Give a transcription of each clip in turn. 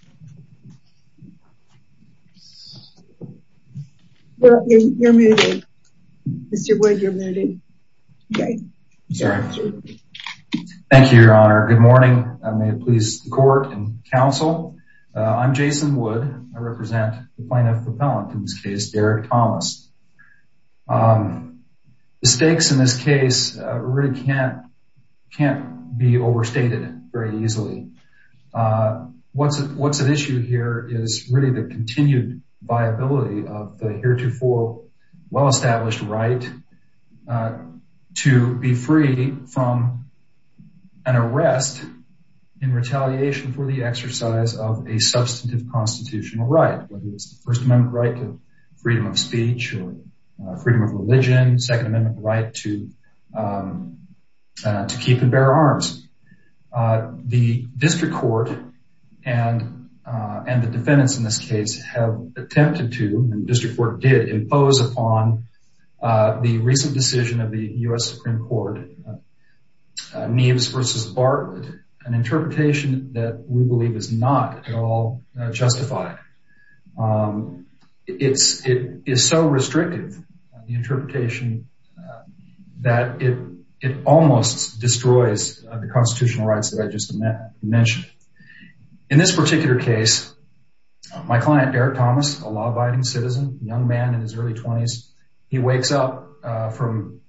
County. Well, you're muted. Mr Wood, you're muted. Okay. Sorry. Thank you, Your Honor. Good morning. I may please the court and counsel. I'm Jason Wood. I represent the plaintiff appellant in this case, Derek Thomas. Mistakes in this case really can't be overstated very What's at issue here is really the continued viability of the heretofore well-established right to be free from an arrest in retaliation for the exercise of a substantive constitutional right, whether it's the First Amendment right to freedom of speech or freedom of religion, Second Amendment right to keep and bear arms. The district court and the defendants in this case have attempted to, and the district court did, impose upon the recent decision of the U.S. Supreme Court, Neeves v. Bartlett, an interpretation that we believe is not at all justified. It is so restrictive, the interpretation, that it almost destroys the constitutional rights that I just mentioned. In this particular case, my client, Derek Thomas, a law-abiding citizen, a young man in his early 20s, he wakes up from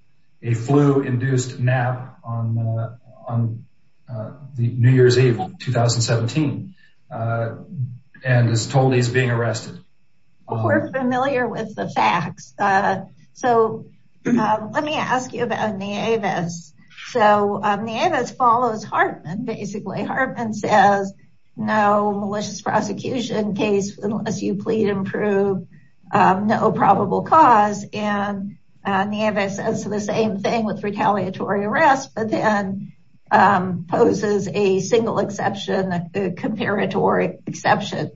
a flu-induced nap on the New Year's Eve of 2017 and is told he's being arrested. We're familiar with the facts. So let me ask you about Neeves. So Neeves follows Hartman, basically. Hartman says no malicious prosecution case unless you plead and prove no probable cause, and Neeves says the same thing with retaliatory arrest, but then poses a single exception, a comparatory exception.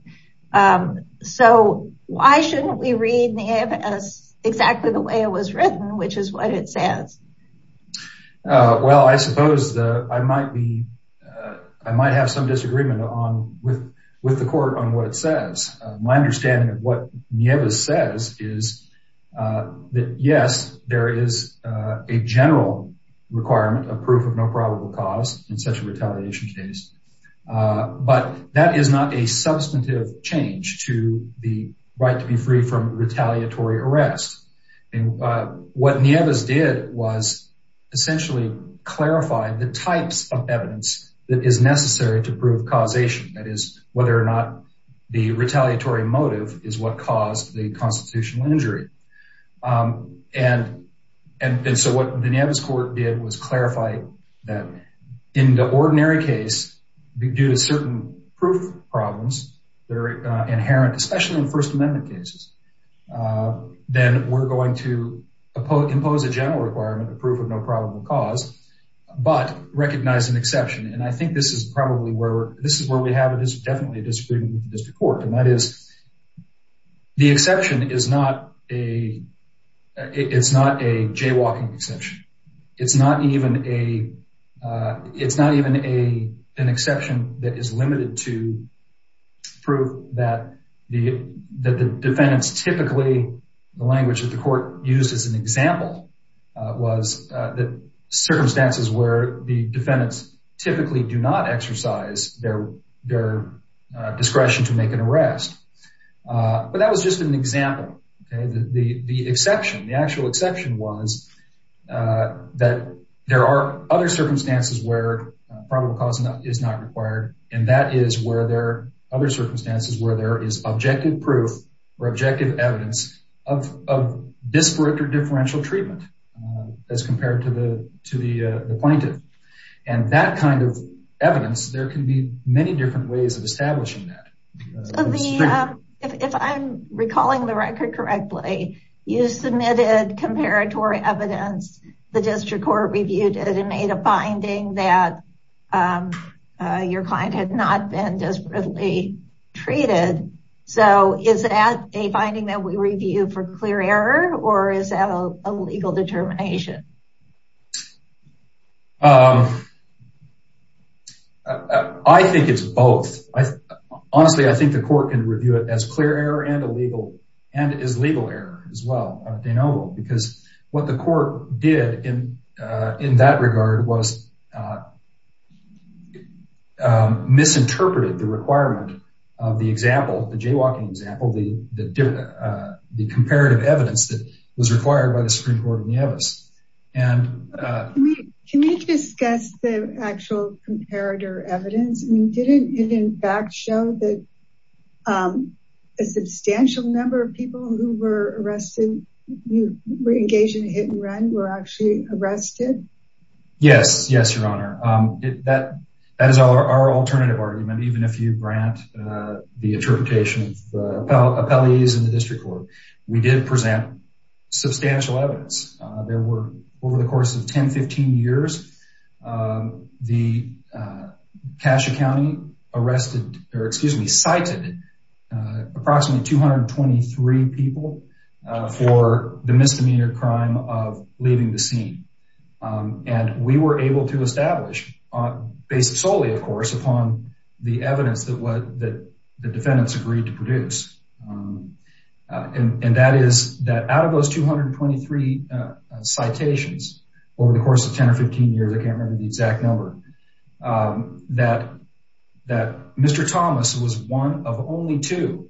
So why shouldn't we read Neeves exactly the way it was written, which is what it says? Well, I suppose that I might have some disagreement with the court on what it says. My understanding of what Neeves says is that, yes, there is a general requirement of proof of no probable cause in such a retaliation case, but that is not a substantive change to the right to be free from retaliatory arrest. What Neeves did was essentially clarify the types of evidence that is necessary to prove causation, that is, whether or not the retaliatory motive is what caused the constitutional injury. And so what the Neeves court did was clarify that in the ordinary case, due to certain proof problems that are inherent, especially in First Amendment cases, then we're going to impose a general requirement of proof of no probable cause, but recognize an exception. And I think this is probably where, this is where we have a definite disagreement with the district court, and that is the exception is not a jaywalking exception. It's not even an exception that is limited to proof that the defendants typically, the language that the court used as an example was that circumstances where the defendants typically do not exercise their discretion to make an arrest. But that was just an example. The exception, the actual exception was that there are other circumstances where probable cause is not required, and that is where there are other circumstances where there is objective proof or objective evidence of disparate or differential treatment as compared to the kind of evidence there can be many different ways of establishing that. If I'm recalling the record correctly, you submitted comparatory evidence, the district court reviewed it and made a finding that your client had not been desperately treated. So is that a finding that we review for clear error, or is that a legal determination? I think it's both. Honestly, I think the court can review it as clear error and as legal error as well, because what the court did in that regard was misinterpreted the requirement of the example, the jaywalking example, the comparative evidence that was required by the comparator evidence. Didn't it in fact show that a substantial number of people who were engaged in a hit and run were actually arrested? Yes, yes, your honor. That is our alternative argument, even if you grant the interpretation of the appellees in the district court. We did in the case of Cassia County, cited approximately 223 people for the misdemeanor crime of leaving the scene. And we were able to establish, based solely of course, upon the evidence that the defendants agreed to produce. And that is that out of those 223 citations over the course of 10 or 15 years, I can't remember the exact number, that Mr. Thomas was one of only two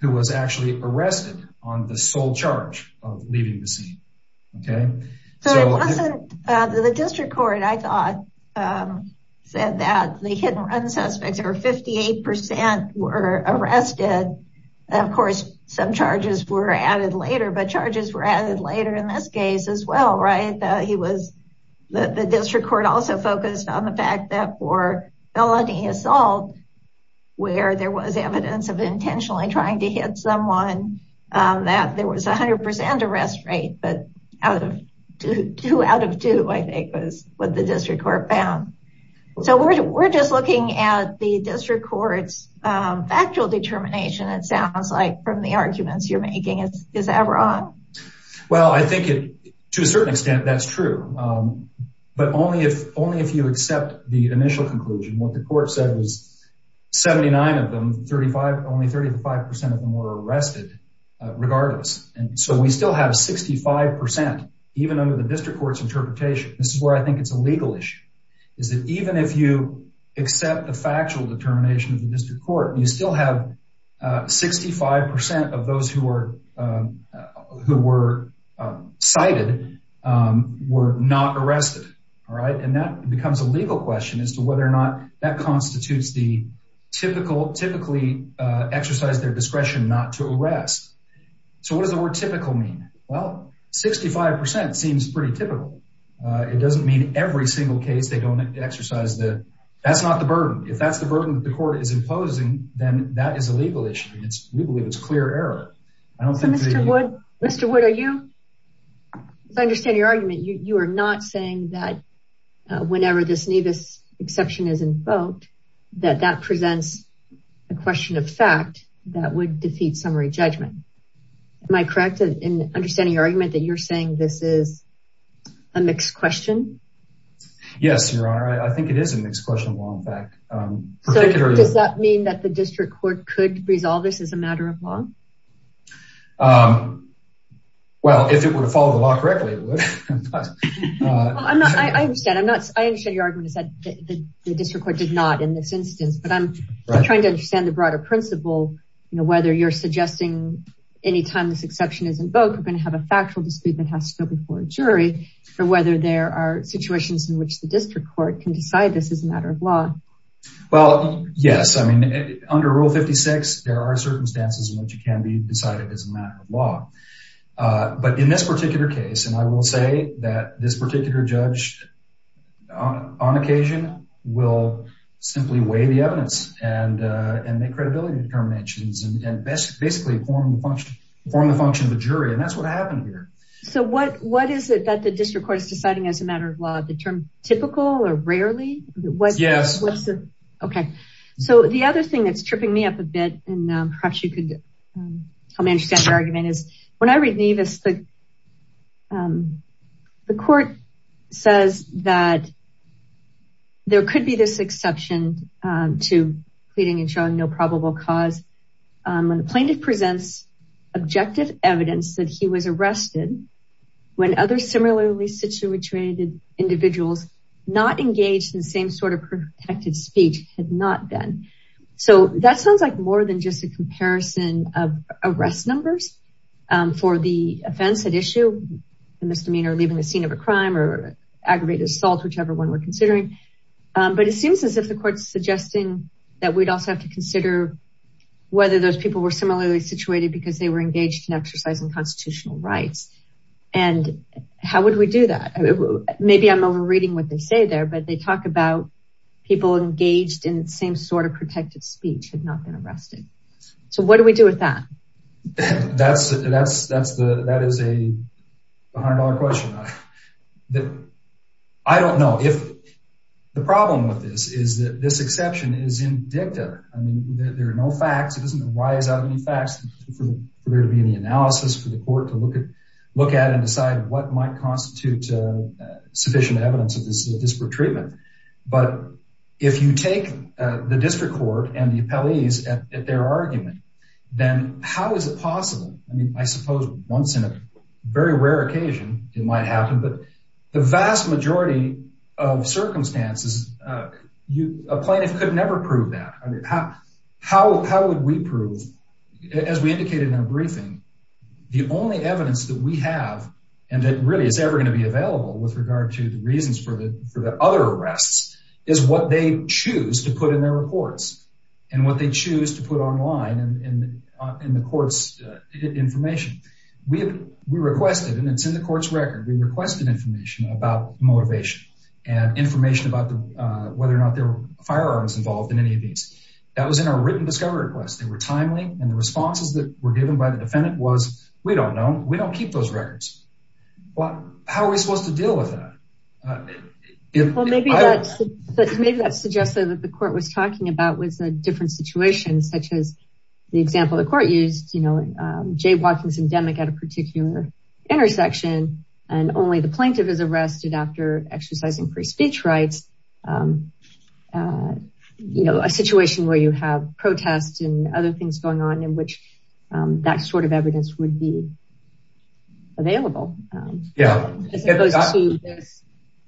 who was actually arrested on the sole charge of leaving the scene. The district court, I thought, said that the hit and run suspects, over 58 percent, were arrested. Of course, some charges were added later, but charges were added later in this case as well, right? The district court also focused on the fact that for felony assault, where there was evidence of intentionally trying to hit someone, that there was 100 percent arrest rate, but two out of two, I think, was what the district court found. So we're just looking at the district court's factual determination, it sounds like, from the arguments you're making. Is that wrong? Well, I think to a certain extent, that's true. But only if you accept the initial conclusion, what the court said was 79 of them, only 35 percent of them were arrested, regardless. And so we still have 65 percent, even under the district court's interpretation. This is where I think it's a legal issue, is that even if you factual determination of the district court, you still have 65 percent of those who were cited were not arrested, all right? And that becomes a legal question as to whether or not that constitutes the typically exercise their discretion not to arrest. So what does the word typical mean? Well, 65 percent seems pretty typical. It doesn't mean every single case they don't exercise that. That's not the burden. If that's the burden that the court is imposing, then that is a legal issue. We believe it's clear error. Mr. Wood, as I understand your argument, you are not saying that whenever this Nevis exception is invoked, that that presents a question of fact that would defeat summary judgment. Am I correct in understanding your argument that you're saying this is a mixed question? Yes, Your Honor. I think it is a mixed question of law and fact. Does that mean that the district court could resolve this as a matter of law? Well, if it were to follow the law correctly, it would. I understand. I understand your argument is that the district court did not in this instance, but I'm trying to understand the broader principle, whether you're suggesting anytime this exception is invoked, we're going to have a factual dispute that has to go before jury for whether there are situations in which the district court can decide this is a matter of law. Well, yes. I mean, under Rule 56, there are circumstances in which it can be decided as a matter of law. But in this particular case, and I will say that this particular judge on occasion will simply weigh the evidence and make credibility determinations and basically perform the function of the jury. And that's what happened here. So what is it that the district court is deciding as a matter of law, the term typical or rarely? Yes. Okay. So the other thing that's tripping me up a bit, and perhaps you could help me understand your argument is when I read Nevis, the court says that there could be this exception to pleading and showing no probable cause when the plaintiff presents objective evidence that he was arrested when other similarly situated individuals not engaged in the same sort of protected speech had not been. So that sounds like more than just a comparison of arrest numbers for the offense at issue, the misdemeanor, leaving the scene of a crime or aggravated assault, whichever one we're considering. But it seems as if the court's suggesting that we'd also have to consider whether those people were similarly situated because they were engaged in exercising constitutional rights. And how would we do that? Maybe I'm overreading what they say there, but they talk about people engaged in the same sort of protected speech had not been arrested. So what do we do with that? That is a $100 question. I don't know. The problem with this is that this exception is indicative. I mean, there are no facts. It doesn't arise out of any facts for there to be any analysis for the court to look at and decide what might constitute sufficient evidence of this But if you take the district court and the appellees at their argument, then how is it possible? I mean, I suppose once in a very rare occasion, it might happen, but the vast majority of circumstances, a plaintiff could never prove that. How would we prove, as we indicated in our briefing, the only evidence that we have and that really is ever going to be available with regard to the reasons for the other arrests is what they choose to put in their reports and what they choose to put online in the court's information. We requested, and it's in the court's record, we requested information about motivation and information about whether or not there were firearms involved in any of these. That was in our written discovery request. They were timely, and the responses that were given by the defendant was, we don't know. We don't keep those Well, maybe that suggested that the court was talking about was a different situation, such as the example the court used, you know, Jay Watkins is endemic at a particular intersection, and only the plaintiff is arrested after exercising free speech rights. You know, a situation where you have protests and other things going on in which that sort of evidence would be available. Yeah, it goes to this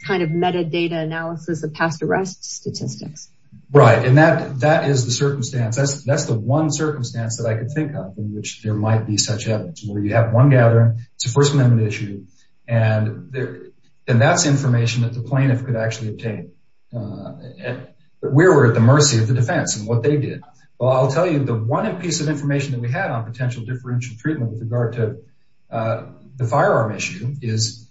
kind of metadata analysis of past arrest statistics. Right, and that is the circumstance. That's the one circumstance that I could think of in which there might be such evidence, where you have one gathering, it's a First Amendment issue, and that's information that the plaintiff could actually obtain. We were at the mercy of the defense and what they did. Well, I'll tell you the one piece of information that we had on potential differential treatment with regard to the firearm issue is,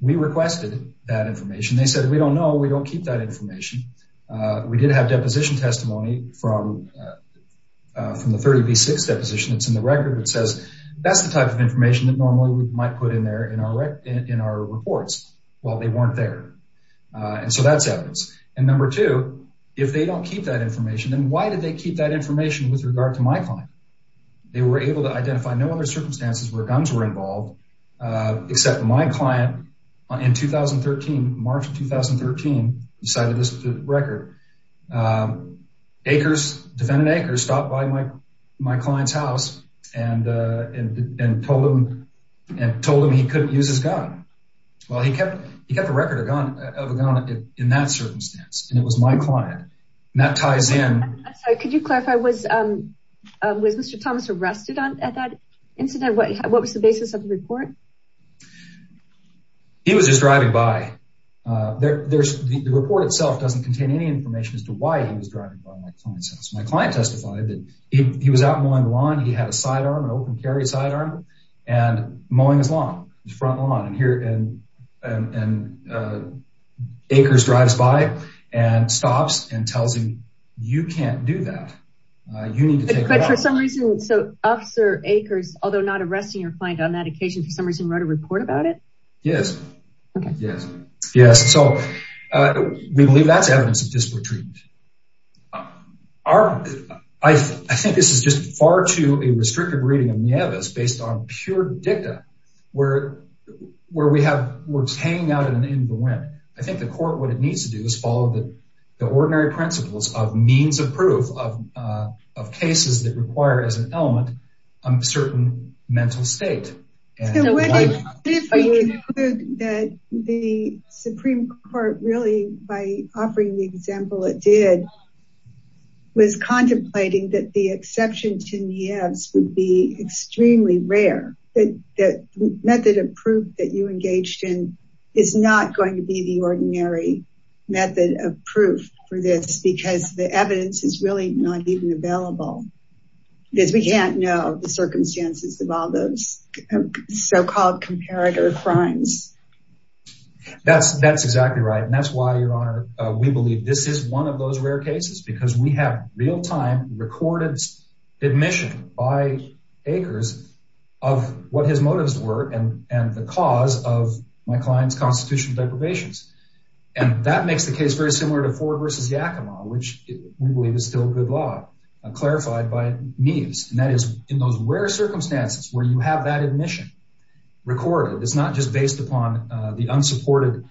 we requested that information. They said, we don't know, we don't keep that information. We did have deposition testimony from the 30b6 deposition that's in the record that says, that's the type of information that normally we might put in there in our reports. Well, they weren't there, and so that's evidence. And number two, if they don't keep that information, then why did they keep that information with regard to my client? They were able to identify no other circumstances where guns were involved, except my client in 2013, March of 2013, decided this was the record. Acres, defendant Acres, stopped by my client's house and told him he couldn't use his gun. Well, he kept the record of a gun in that circumstance, and it was my client. And that Mr. Thomas arrested at that incident, what was the basis of the report? He was just driving by. The report itself doesn't contain any information as to why he was driving by my client's house. My client testified that he was out mowing the lawn, he had a sidearm, an open carry sidearm, and mowing his lawn, his front lawn. And Acres drives by and stops and you can't do that. But for some reason, so Officer Acres, although not arresting your client on that occasion, for some reason wrote a report about it? Yes, yes, yes. So we believe that's evidence of disparate treatment. I think this is just far too a restrictive reading of MIEVAs based on pure dicta, where we have words hanging out in the wind. I think the court, what it needs to do is follow the ordinary principles of means of proof of cases that require as an element, a certain mental state. That the Supreme Court really, by offering the example it did, was contemplating that the exception to MIEVAs would be extremely rare, that method of proof that you engaged in is not going to be the ordinary method of proof for this, because the evidence is really not even available. Because we can't know the circumstances of all those so-called comparator crimes. That's exactly right, and that's why, Your Honor, we believe this is one of those rare cases, because we have real-time recorded admission by Acres of what his motives were and the cause of my client's constitutional deprivations. And that makes the case very similar to Ford v. Yakima, which we believe is still good law, clarified by MIEVAs. And that is, in those rare circumstances where you have that admission recorded, it's not just based upon the unsupported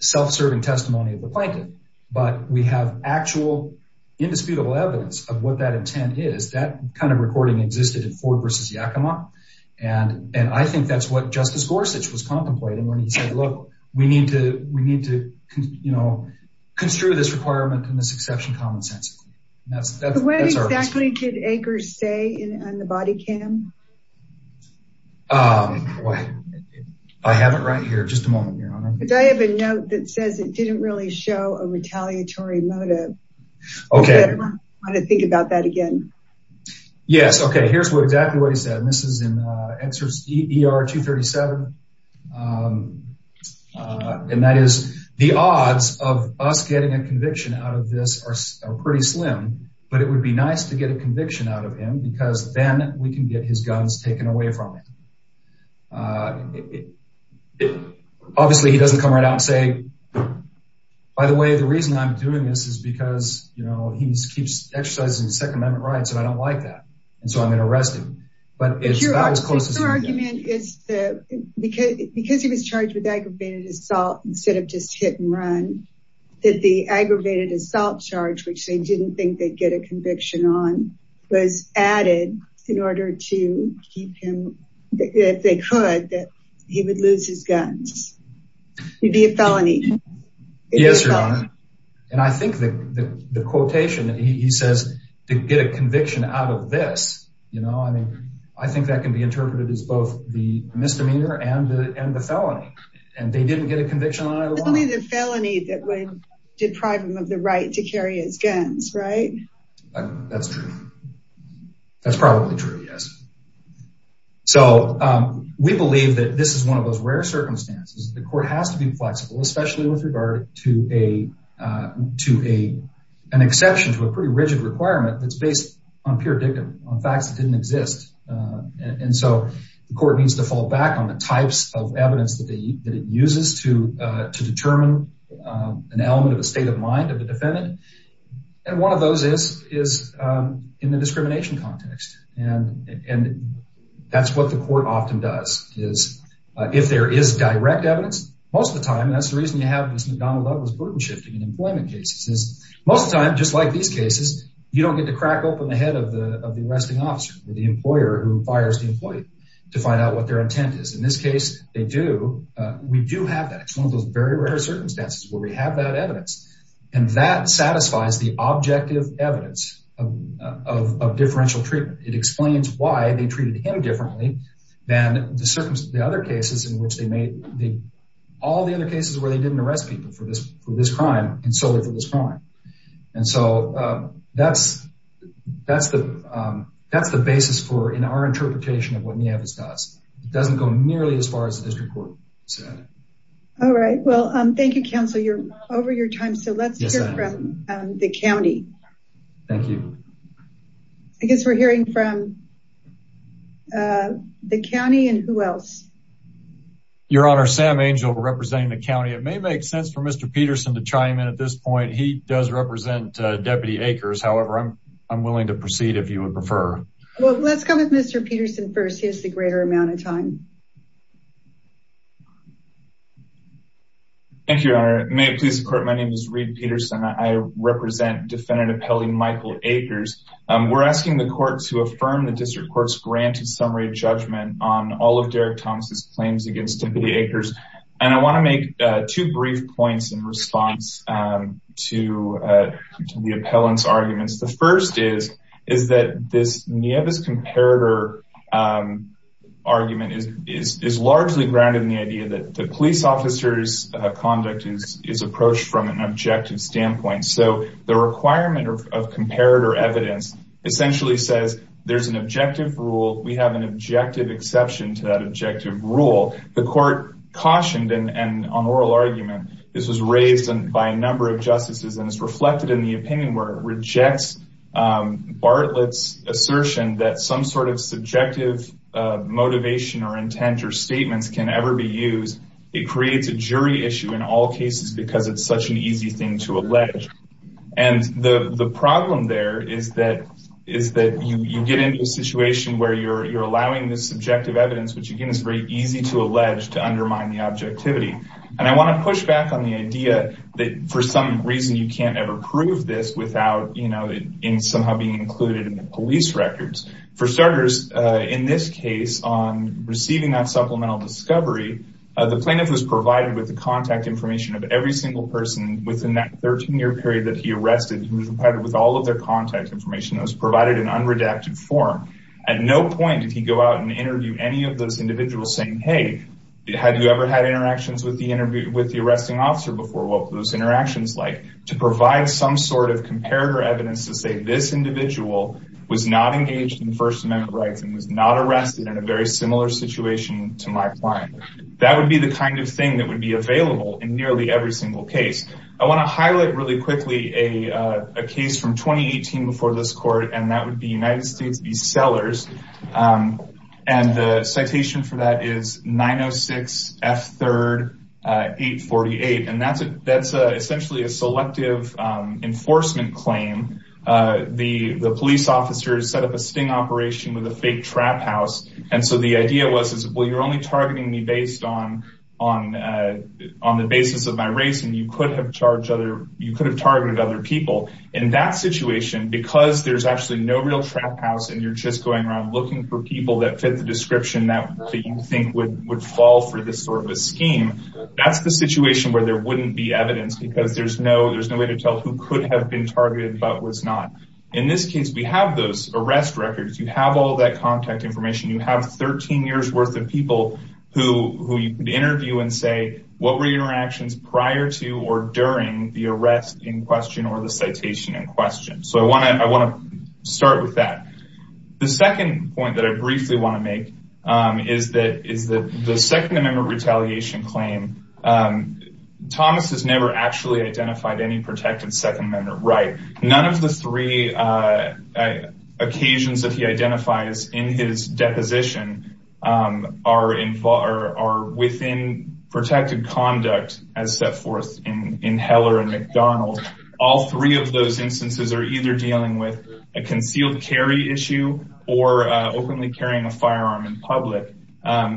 self-serving testimony of the plaintiff, but we have actual indisputable evidence of what that intent is. That kind of recording existed in Ford v. Yakima, and I think that's what Justice Gorsuch was contemplating when he said, look, we need to construe this requirement and this exception commonsensically. The way exactly did Acres stay on the body cam? I have it right here, just a moment, Your Honor. I have a note that says it didn't really show a retaliatory motive. Okay. I want to think about that again. Yes. Okay. Here's exactly what he said, and this is in ER 237. And that is, the odds of us getting a conviction out of this are pretty slim, but it would be nice to get a conviction out of him because then we can get his guns taken away from him. Obviously, he doesn't come right out and say, by the way, the reason I'm doing this is he keeps exercising Second Amendment rights, and I don't like that, and so I'm going to arrest him. But your argument is that because he was charged with aggravated assault instead of just hit and run, that the aggravated assault charge, which they didn't think they'd get a conviction on, was added in order to keep him, if they could, that he would lose his guns. He'd be a felony. Yes, Your Honor. And I think that the quotation that he says to get a conviction out of this, you know, I think that can be interpreted as both the misdemeanor and the felony, and they didn't get a conviction on either one. It's only the felony that would deprive him of the right to carry his guns, right? That's true. That's probably true, yes. So we believe that this is one of those rare circumstances. The court has to be flexible, especially with regard to an exception to a pretty rigid requirement that's based on pure dictum, on facts that didn't exist. And so the court needs to fall back on the types of evidence that it uses to determine an element of a state of mind of the defendant. And one of those is in the discrimination context, and that's what the court often does, is if there is direct evidence, most of the time, that's the reason you have this McDonnell Douglas burden shifting in employment cases, most of the time, just like these cases, you don't get to crack open the head of the arresting officer or the employer who fires the employee to find out what their intent is. In this case, they do. We do have that. It's one of those very rare circumstances where we have that evidence, and that satisfies the objective evidence of differential treatment. It explains why they treated him differently than the other cases in which they made, all the other cases where they didn't arrest people for this crime and solely for this crime. And so that's the basis for, in our interpretation of what NEAVIS does. It doesn't go nearly as far as the district court said. All right. Well, thank you, counsel. You're over your time. So let's hear from the county. Thank you. I guess we're hearing from the county and who else? Your Honor, Sam Angel representing the county. It may make sense for Mr. Peterson to chime in at this point. He does represent Deputy Akers. However, I'm willing to proceed if you would prefer. Well, let's come with Mr. Peterson first. He has the greater amount of time. Thank you, Your Honor. May it please the court, my name is Reed Peterson. I represent Defendant Appellee Michael Akers. We're asking the court to affirm the district court's granted summary judgment on all of Derek Thomas's claims against Deputy Akers. And I want to make two brief points in response to the appellant's arguments. The first is that this NEAVIS comparator argument is largely grounded in the idea that the police officer's conduct is approached from an objective standpoint. So the requirement of comparator evidence essentially says there's an objective rule. We have an objective exception to that objective rule. The court cautioned and on oral argument, this was raised by a number of justices and is reflected in the opinion where it is used. It creates a jury issue in all cases because it's such an easy thing to allege. And the problem there is that you get into a situation where you're allowing this subjective evidence, which again is very easy to allege, to undermine the objectivity. And I want to push back on the idea that for some reason you can't ever prove this without somehow being included in the police records. For starters, in this case on receiving that supplemental discovery, the plaintiff was provided with the contact information of every single person within that 13-year period that he arrested. He was provided with all of their contact information. It was provided in unredacted form. At no point did he go out and interview any of those individuals saying, hey, have you ever had interactions with the arresting officer before? What were those interactions like? To provide some sort of comparative evidence to say this individual was not engaged in First Amendment rights and was not arrested in a very similar situation to my client. That would be the kind of thing that would be available in nearly every single case. I want to highlight really quickly a case from 2018 before this court, and that would be Sellers. And the citation for that is 906 F3rd 848. And that's essentially a selective enforcement claim. The police officers set up a sting operation with a fake trap house. And so the idea was, well, you're only targeting me based on the basis of my race, and you could have targeted other people. In that situation, because there's actually no real trap house, and you're just going around looking for people that fit the description that you think would fall for this sort of a scheme, that's the situation where there wouldn't be evidence because there's no way to tell who could have been targeted but was not. In this case, we have those arrest records. You have all that contact information. You have 13 years worth of people who you could interview and say, what were interactions prior to or during the arrest in question or the citation in question? So I want to start with that. The second point that I briefly want to make is that the Second Amendment retaliation claim, Thomas has never actually identified any protected Second Amendment right. None of the three occasions that he identifies in his deposition are within protected conduct as set forth in Heller and McDonald. All three of those instances are either dealing with a concealed carry issue or openly carrying a firearm in public.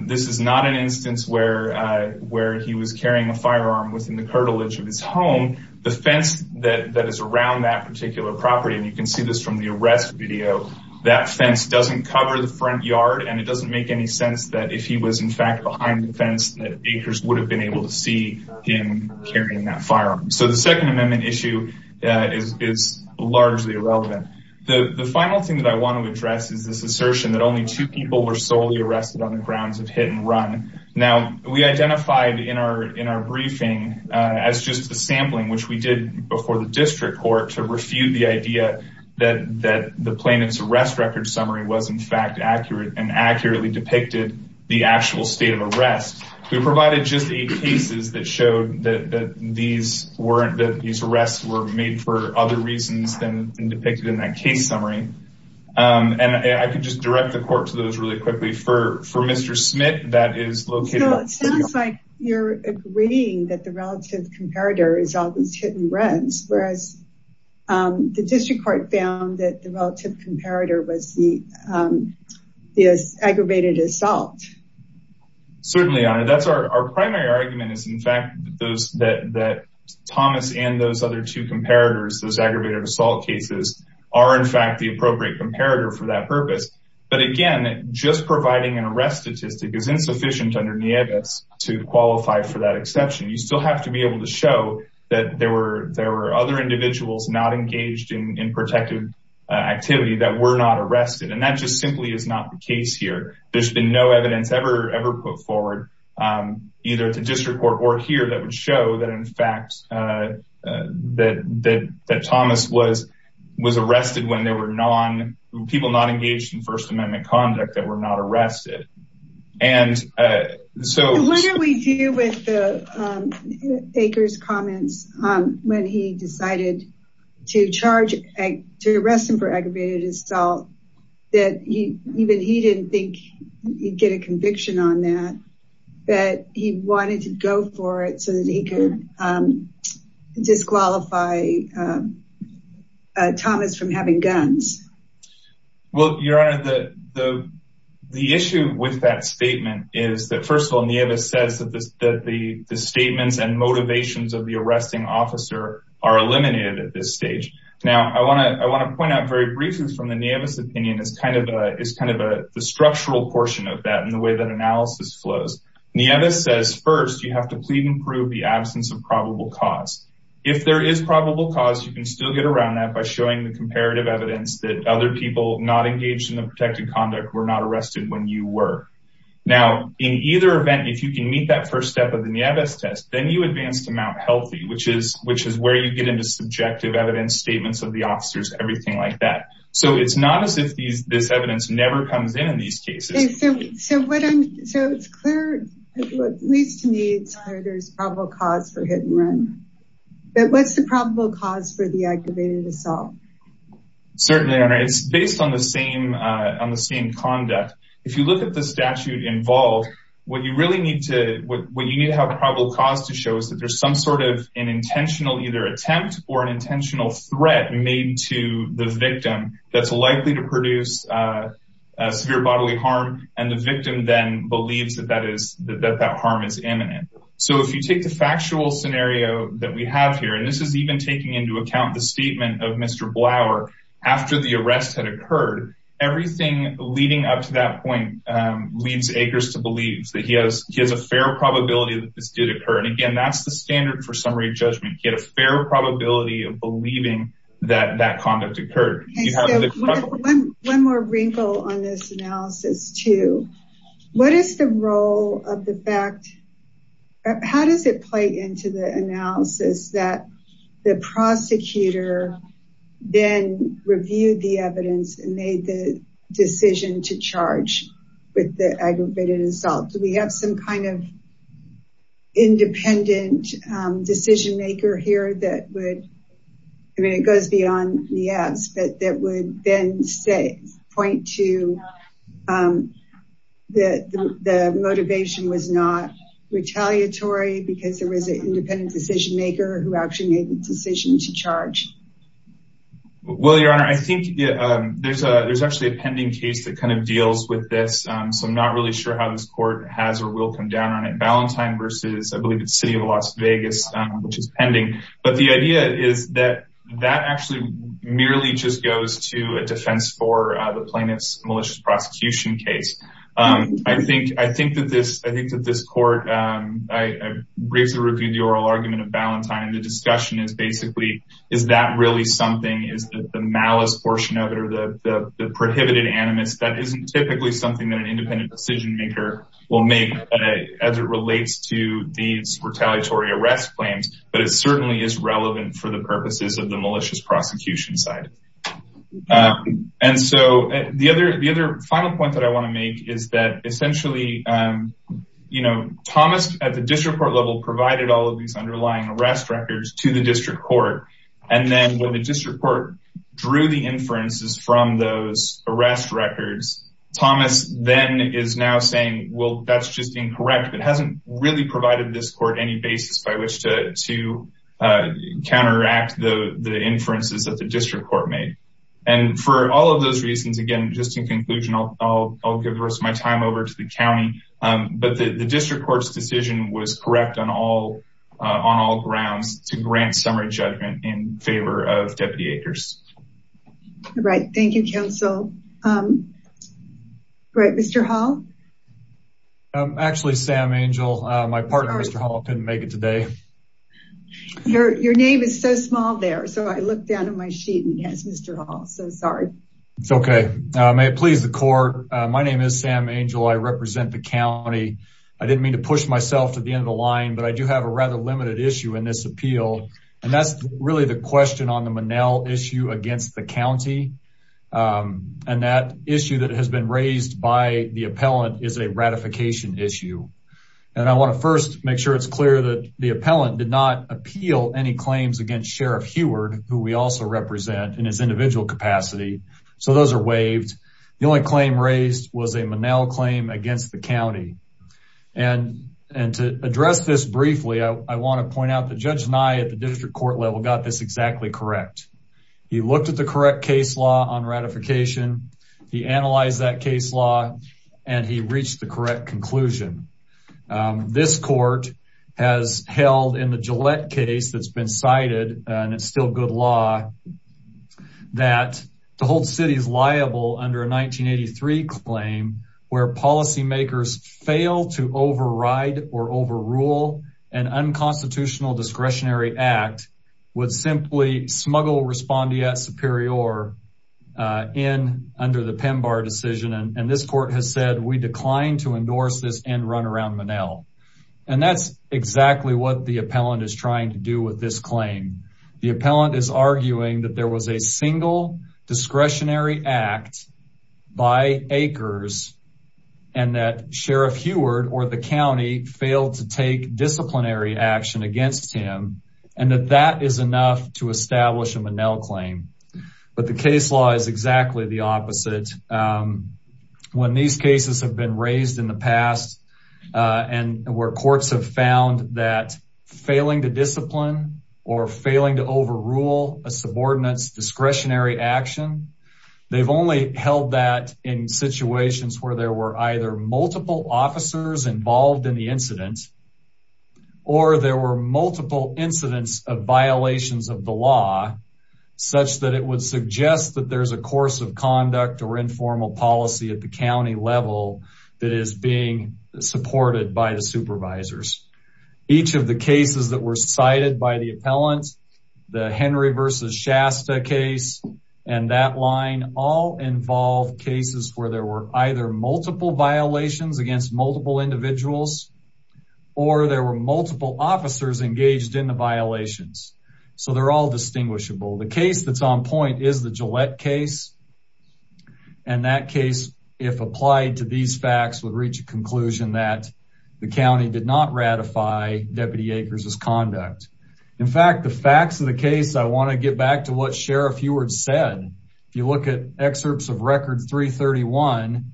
This is not an instance where he was carrying a firearm within the curtilage of his home. The fence that is around that particular property, and you can see this from the arrest video, that fence doesn't cover the front yard and it doesn't make any sense that if he was in fact behind the fence that acres would have been able to see him carrying that firearm. So the Second Amendment issue is largely irrelevant. The final thing that I want to address is this assertion that only two people were solely arrested on the grounds of hit and run. Now, we identified in our briefing as just a sampling, which we did before the district court to refute the idea that the plaintiff's arrest record summary was in fact accurate and accurately depicted the actual state of arrest. We provided just eight cases that showed that these arrests were made for other reasons than depicted in that case summary. And I could just direct the court to those really quickly. For Mr. Smith, that is located... It sounds like you're agreeing that the relative comparator is always hit and runs, whereas the district court found that the relative comparator was the aggravated assault. Certainly, that's our primary argument is in fact that Thomas and those other two comparators, those aggravated assault cases, are in fact the appropriate comparator for that purpose. But again, just providing an arrest statistic is insufficient under NIEVAS to qualify for that exception. You still have to be able to show that there were other individuals not engaged in protective activity that were not arrested. And that just simply is not the case here. There's been no evidence ever put forward either to district court or here that would show that in First Amendment conduct that were not arrested. What did we do with Aker's comments when he decided to arrest him for aggravated assault that even he didn't think he'd get a conviction on that, that he wanted to go for it so that he could disqualify Thomas from having guns? Well, Your Honor, the issue with that statement is that, first of all, NIEVAS says that the statements and motivations of the arresting officer are eliminated at this stage. Now, I want to point out very briefly from the NIEVAS opinion is kind of the structural portion of that and the way that analysis flows. NIEVAS says, first, you have to plead and prove the absence of probable cause. If there is probable cause, you can still get around that by showing the other people not engaged in the protected conduct were not arrested when you were. Now, in either event, if you can meet that first step of the NIEVAS test, then you advance to Mount Healthy, which is where you get into subjective evidence statements of the officers, everything like that. So it's not as if this evidence never comes in in these cases. So it's clear, at least to me, there's probable cause for hit and run. But what's the probable cause for the activated assault? Certainly, Your Honor, it's based on the same conduct. If you look at the statute involved, what you really need to have probable cause to show is that there's some sort of an intentional either attempt or an intentional threat made to the victim that's likely to produce severe bodily harm, and the victim then believes that that harm is imminent. So if you take the factual scenario that we have here, and this is even taking into account the statement of Mr. Blauer, after the arrest had occurred, everything leading up to that point leads Akers to believe that he has a fair probability that this did occur. And again, that's the standard for summary judgment. He had a fair probability of believing that that conduct occurred. You have one more wrinkle on this analysis, too. What is the role of the fact? How does it play into the analysis that the prosecutor then reviewed the evidence and made the decision to charge with the aggravated assault? Do we have some kind of independent decision maker here that would, I mean, it goes beyond the ads, but that would then point to that the motivation was not retaliatory because there was an independent decision maker who actually made the decision to charge? Well, Your Honor, I think there's actually a pending case that kind of deals with this. So I'm not really sure how this court has or will come down on it. I believe it's City of Las Vegas, which is pending. But the idea is that that actually merely just goes to a defense for the plaintiff's malicious prosecution case. I think that this court, I briefly reviewed the oral argument of Ballantyne. The discussion is basically, is that really something? Is the malice portion of it, or the prohibited animus, that isn't typically something that an independent decision maker will make as it relates to these retaliatory arrest claims, but it certainly is relevant for the purposes of the malicious prosecution side. And so the other final point that I want to make is that essentially, you know, Thomas at the district court level provided all of these underlying arrest records to the district court. And then when the district court drew the inferences from those arrest records, Thomas then is now saying, well, that's just incorrect. It hasn't really provided this court any basis by which to counteract the inferences that the district court made. And for all of those reasons, again, just in conclusion, I'll give the rest of my time over to the county, but the district court's decision was correct on all grounds to grant summary judgment in favor of Deputy Akers. All right. Thank you, counsel. Mr. Hall? Actually, Sam Angel, my partner, Mr. Hall, couldn't make it today. Your name is so small there, so I looked down at my sheet and guessed Mr. Hall, so sorry. Okay. May it please the court. My name is Sam Angel. I represent the county. I didn't mean to push myself to the end of the line, but I do have a rather limited issue in this appeal. And that's really the question on the Monell issue against the county. And that issue that has been raised by the appellant is a ratification issue. And I want to first make sure it's clear that the appellant did not appeal any claims against Sheriff Huard, who we also represent in his individual capacity. So those are waived. The only claim raised was a Monell claim against the county. And to address this briefly, I want to point out that Judge Nye at the district court level got this exactly correct. He looked at the correct case law on ratification. He analyzed that case law, and he reached the correct conclusion. This court has good law that to hold cities liable under a 1983 claim where policymakers fail to override or overrule an unconstitutional discretionary act would simply smuggle respondeat superior in under the PEMBAR decision. And this court has said, we decline to endorse this and run around Monell. And that's exactly what the appellant is trying to do with this claim. The appellant is arguing that there was a single discretionary act by acres and that Sheriff Huard or the county failed to take disciplinary action against him and that that is enough to establish a Monell claim. But the case law is exactly the opposite. When these cases have been raised in the past, and where courts have found that failing to discipline or failing to overrule a subordinates discretionary action, they've only held that in situations where there were either multiple officers involved in the incident, or there were multiple incidents of violations of the law, such that it would suggest that there's a course of conduct or informal policy at the county level that is being supported by the supervisors. Each of the cases that were cited by the appellant, the Henry versus Shasta case, and that line all involve cases where there were either multiple violations against multiple individuals, or there were multiple officers engaged in the violations. So they're all distinguishable. The case that's on point is the Gillette case. And that case, if applied to these facts, would reach a conclusion that the county did not ratify Deputy Acres' conduct. In fact, the facts of the case, I want to get back to what Sheriff Huard said. If you look at excerpts of record 331,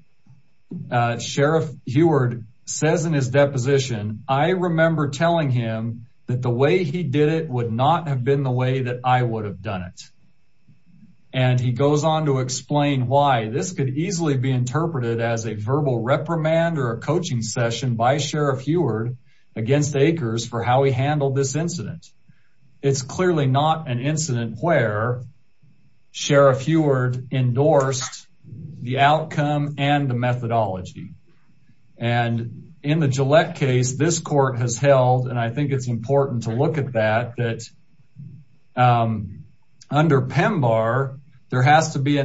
Sheriff Huard says in his deposition, I remember telling him that the way he did it would not have been the way that I would have done it. And he goes on to explain why this could easily be interpreted as a verbal reprimand or a coaching session by Sheriff Huard against Acres for how he handled this incident. It's clearly not an incident where Sheriff Huard endorsed the outcome and the methodology. And in the Gillette case, this court has held, and I think it's important to look at that, that under PEMBAR, there has to be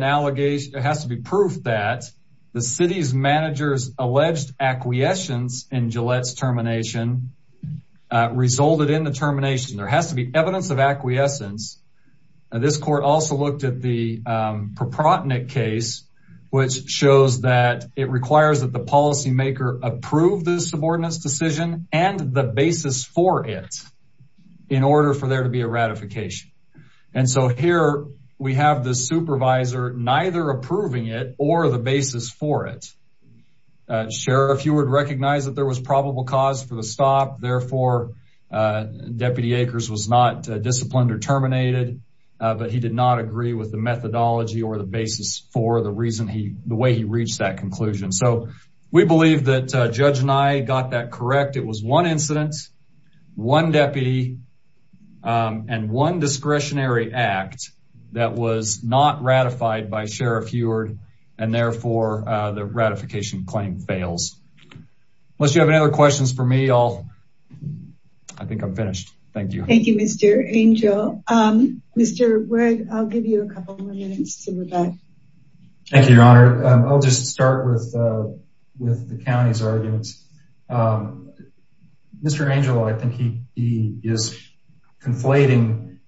proof that the city's manager's alleged acquiescence in Gillette's termination resulted in the termination. There has to be evidence of acquiescence. This court also looked at the Proprotnick case, which shows that it requires that the policymaker approve this subordinates decision and the basis for it in order for there to be a ratification. And so here we have the supervisor neither approving it or the basis for it. Sheriff Huard recognized that there was probable cause for the stop. Therefore, Deputy Acres was not disciplined or terminated, but he did not agree with the methodology or the basis for the reason the way he reached that conclusion. So we believe that Judge Nye got that correct. It was one incident, one deputy, and one discretionary act that was not ratified by Sheriff Huard, and therefore the ratification claim fails. Unless you have any other questions for me, I think I'm finished. Thank you. Thank you, Mr. Angel. Mr. Wood, I'll give you a couple more minutes. Okay. Thank you, Your Honor. I'll just start with the county's arguments. Mr. Angel, I think he is conflating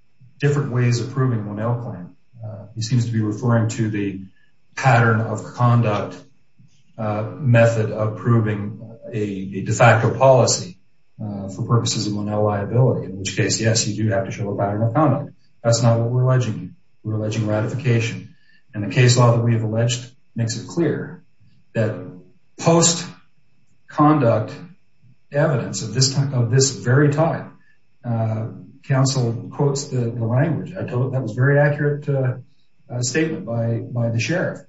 different ways of proving a Monell claim. He seems to be referring to the pattern of conduct method of proving a de facto policy for purposes of Monell liability, in which case, yes, you do have to show a pattern of conduct. That's not what we're talking about. We're talking about a case law that makes it clear that post-conduct evidence of this very time, counsel quotes the language. That was a very accurate statement by the sheriff.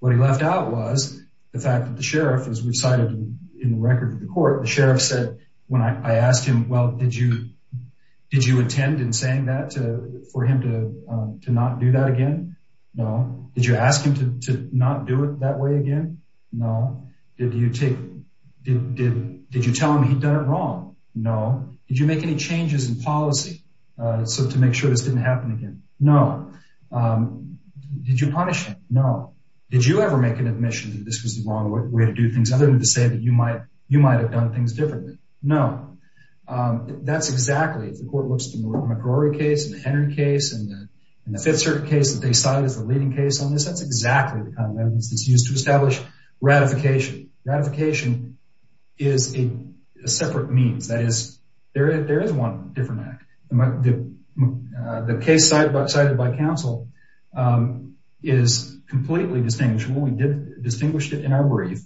What he left out was the fact that the sheriff, as we've cited in the record of the court, the sheriff said, when I asked him, well, did you intend in saying that for him to not do that again? No. Did you ask him to not do it that way again? No. Did you tell him he'd done it wrong? No. Did you make any changes in policy so to make sure this didn't happen again? No. Did you punish him? No. Did you ever make an admission that this was the wrong way to do things other than to say that you might have done things differently? No. That's exactly, the court looks to the McCrory case and the Henry case and the Fifth Circuit case that they cited as the leading case on this. That's exactly the kind of evidence that's used to establish ratification. Ratification is a separate means. That is, there is one different act. The case cited by counsel is completely distinguishable. We did distinguish it in our brief.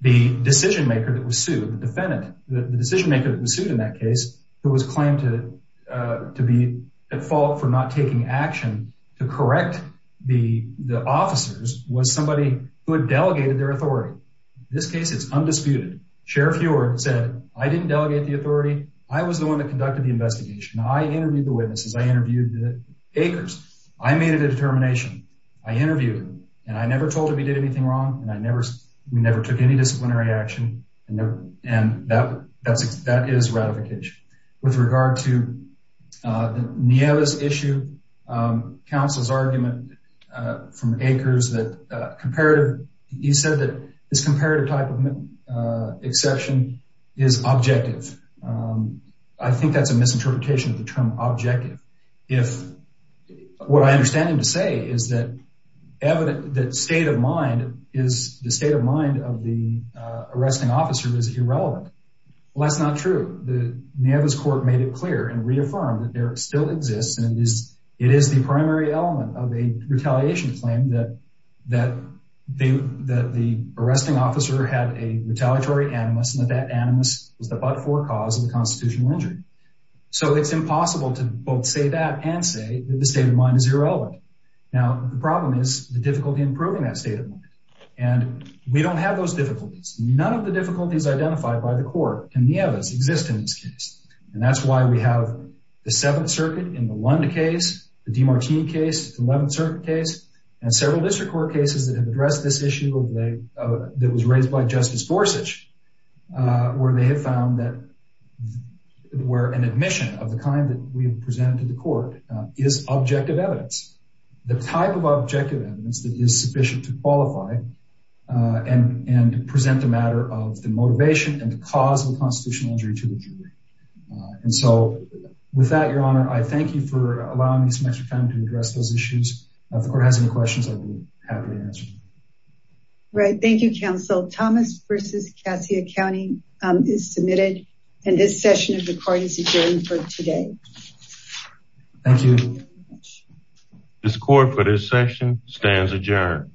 The decision maker that was sued, the defendant, the decision maker that was sued in that case, who was claimed to be at fault for not taking action to correct the officers, was somebody who had delegated their authority. This case is undisputed. Sheriff Huard said, I didn't delegate the authority. I was the one that conducted the investigation. I interviewed the witnesses. I interviewed the takers. I made a determination. I interviewed them, and I never told them he did anything wrong, and we never took any disciplinary action. And that is ratification. With regard to the Nieves issue, counsel's argument from Akers that comparative, he said that this comparative type of exception is objective. I think that's a misinterpretation of the term objective. What I understand him to say is that the state of mind of the arresting officer is irrelevant. Well, that's not true. The Nieves court made it clear and reaffirmed that there still exists, and it is the primary element of a retaliation claim that the arresting officer had a retaliatory animus, and that that animus was the but-for cause of the constitutional injury. So it's impossible to both say that and say that state of mind is irrelevant. Now, the problem is the difficulty in proving that state of mind, and we don't have those difficulties. None of the difficulties identified by the court in Nieves exist in this case, and that's why we have the Seventh Circuit in the Lunda case, the DiMartini case, the Eleventh Circuit case, and several district court cases that have addressed this issue that was raised by Justice Gorsuch, where they have found that where an admission of the we have presented to the court is objective evidence, the type of objective evidence that is sufficient to qualify and present the matter of the motivation and the cause of constitutional injury to the jury. And so with that, Your Honor, I thank you for allowing me some extra time to address those issues. If the court has any questions, I will be happy to answer them. Right. Thank you, counsel. Thomas v. Cascia County is submitted, and this session of the Thank you. This court for this session stands adjourned.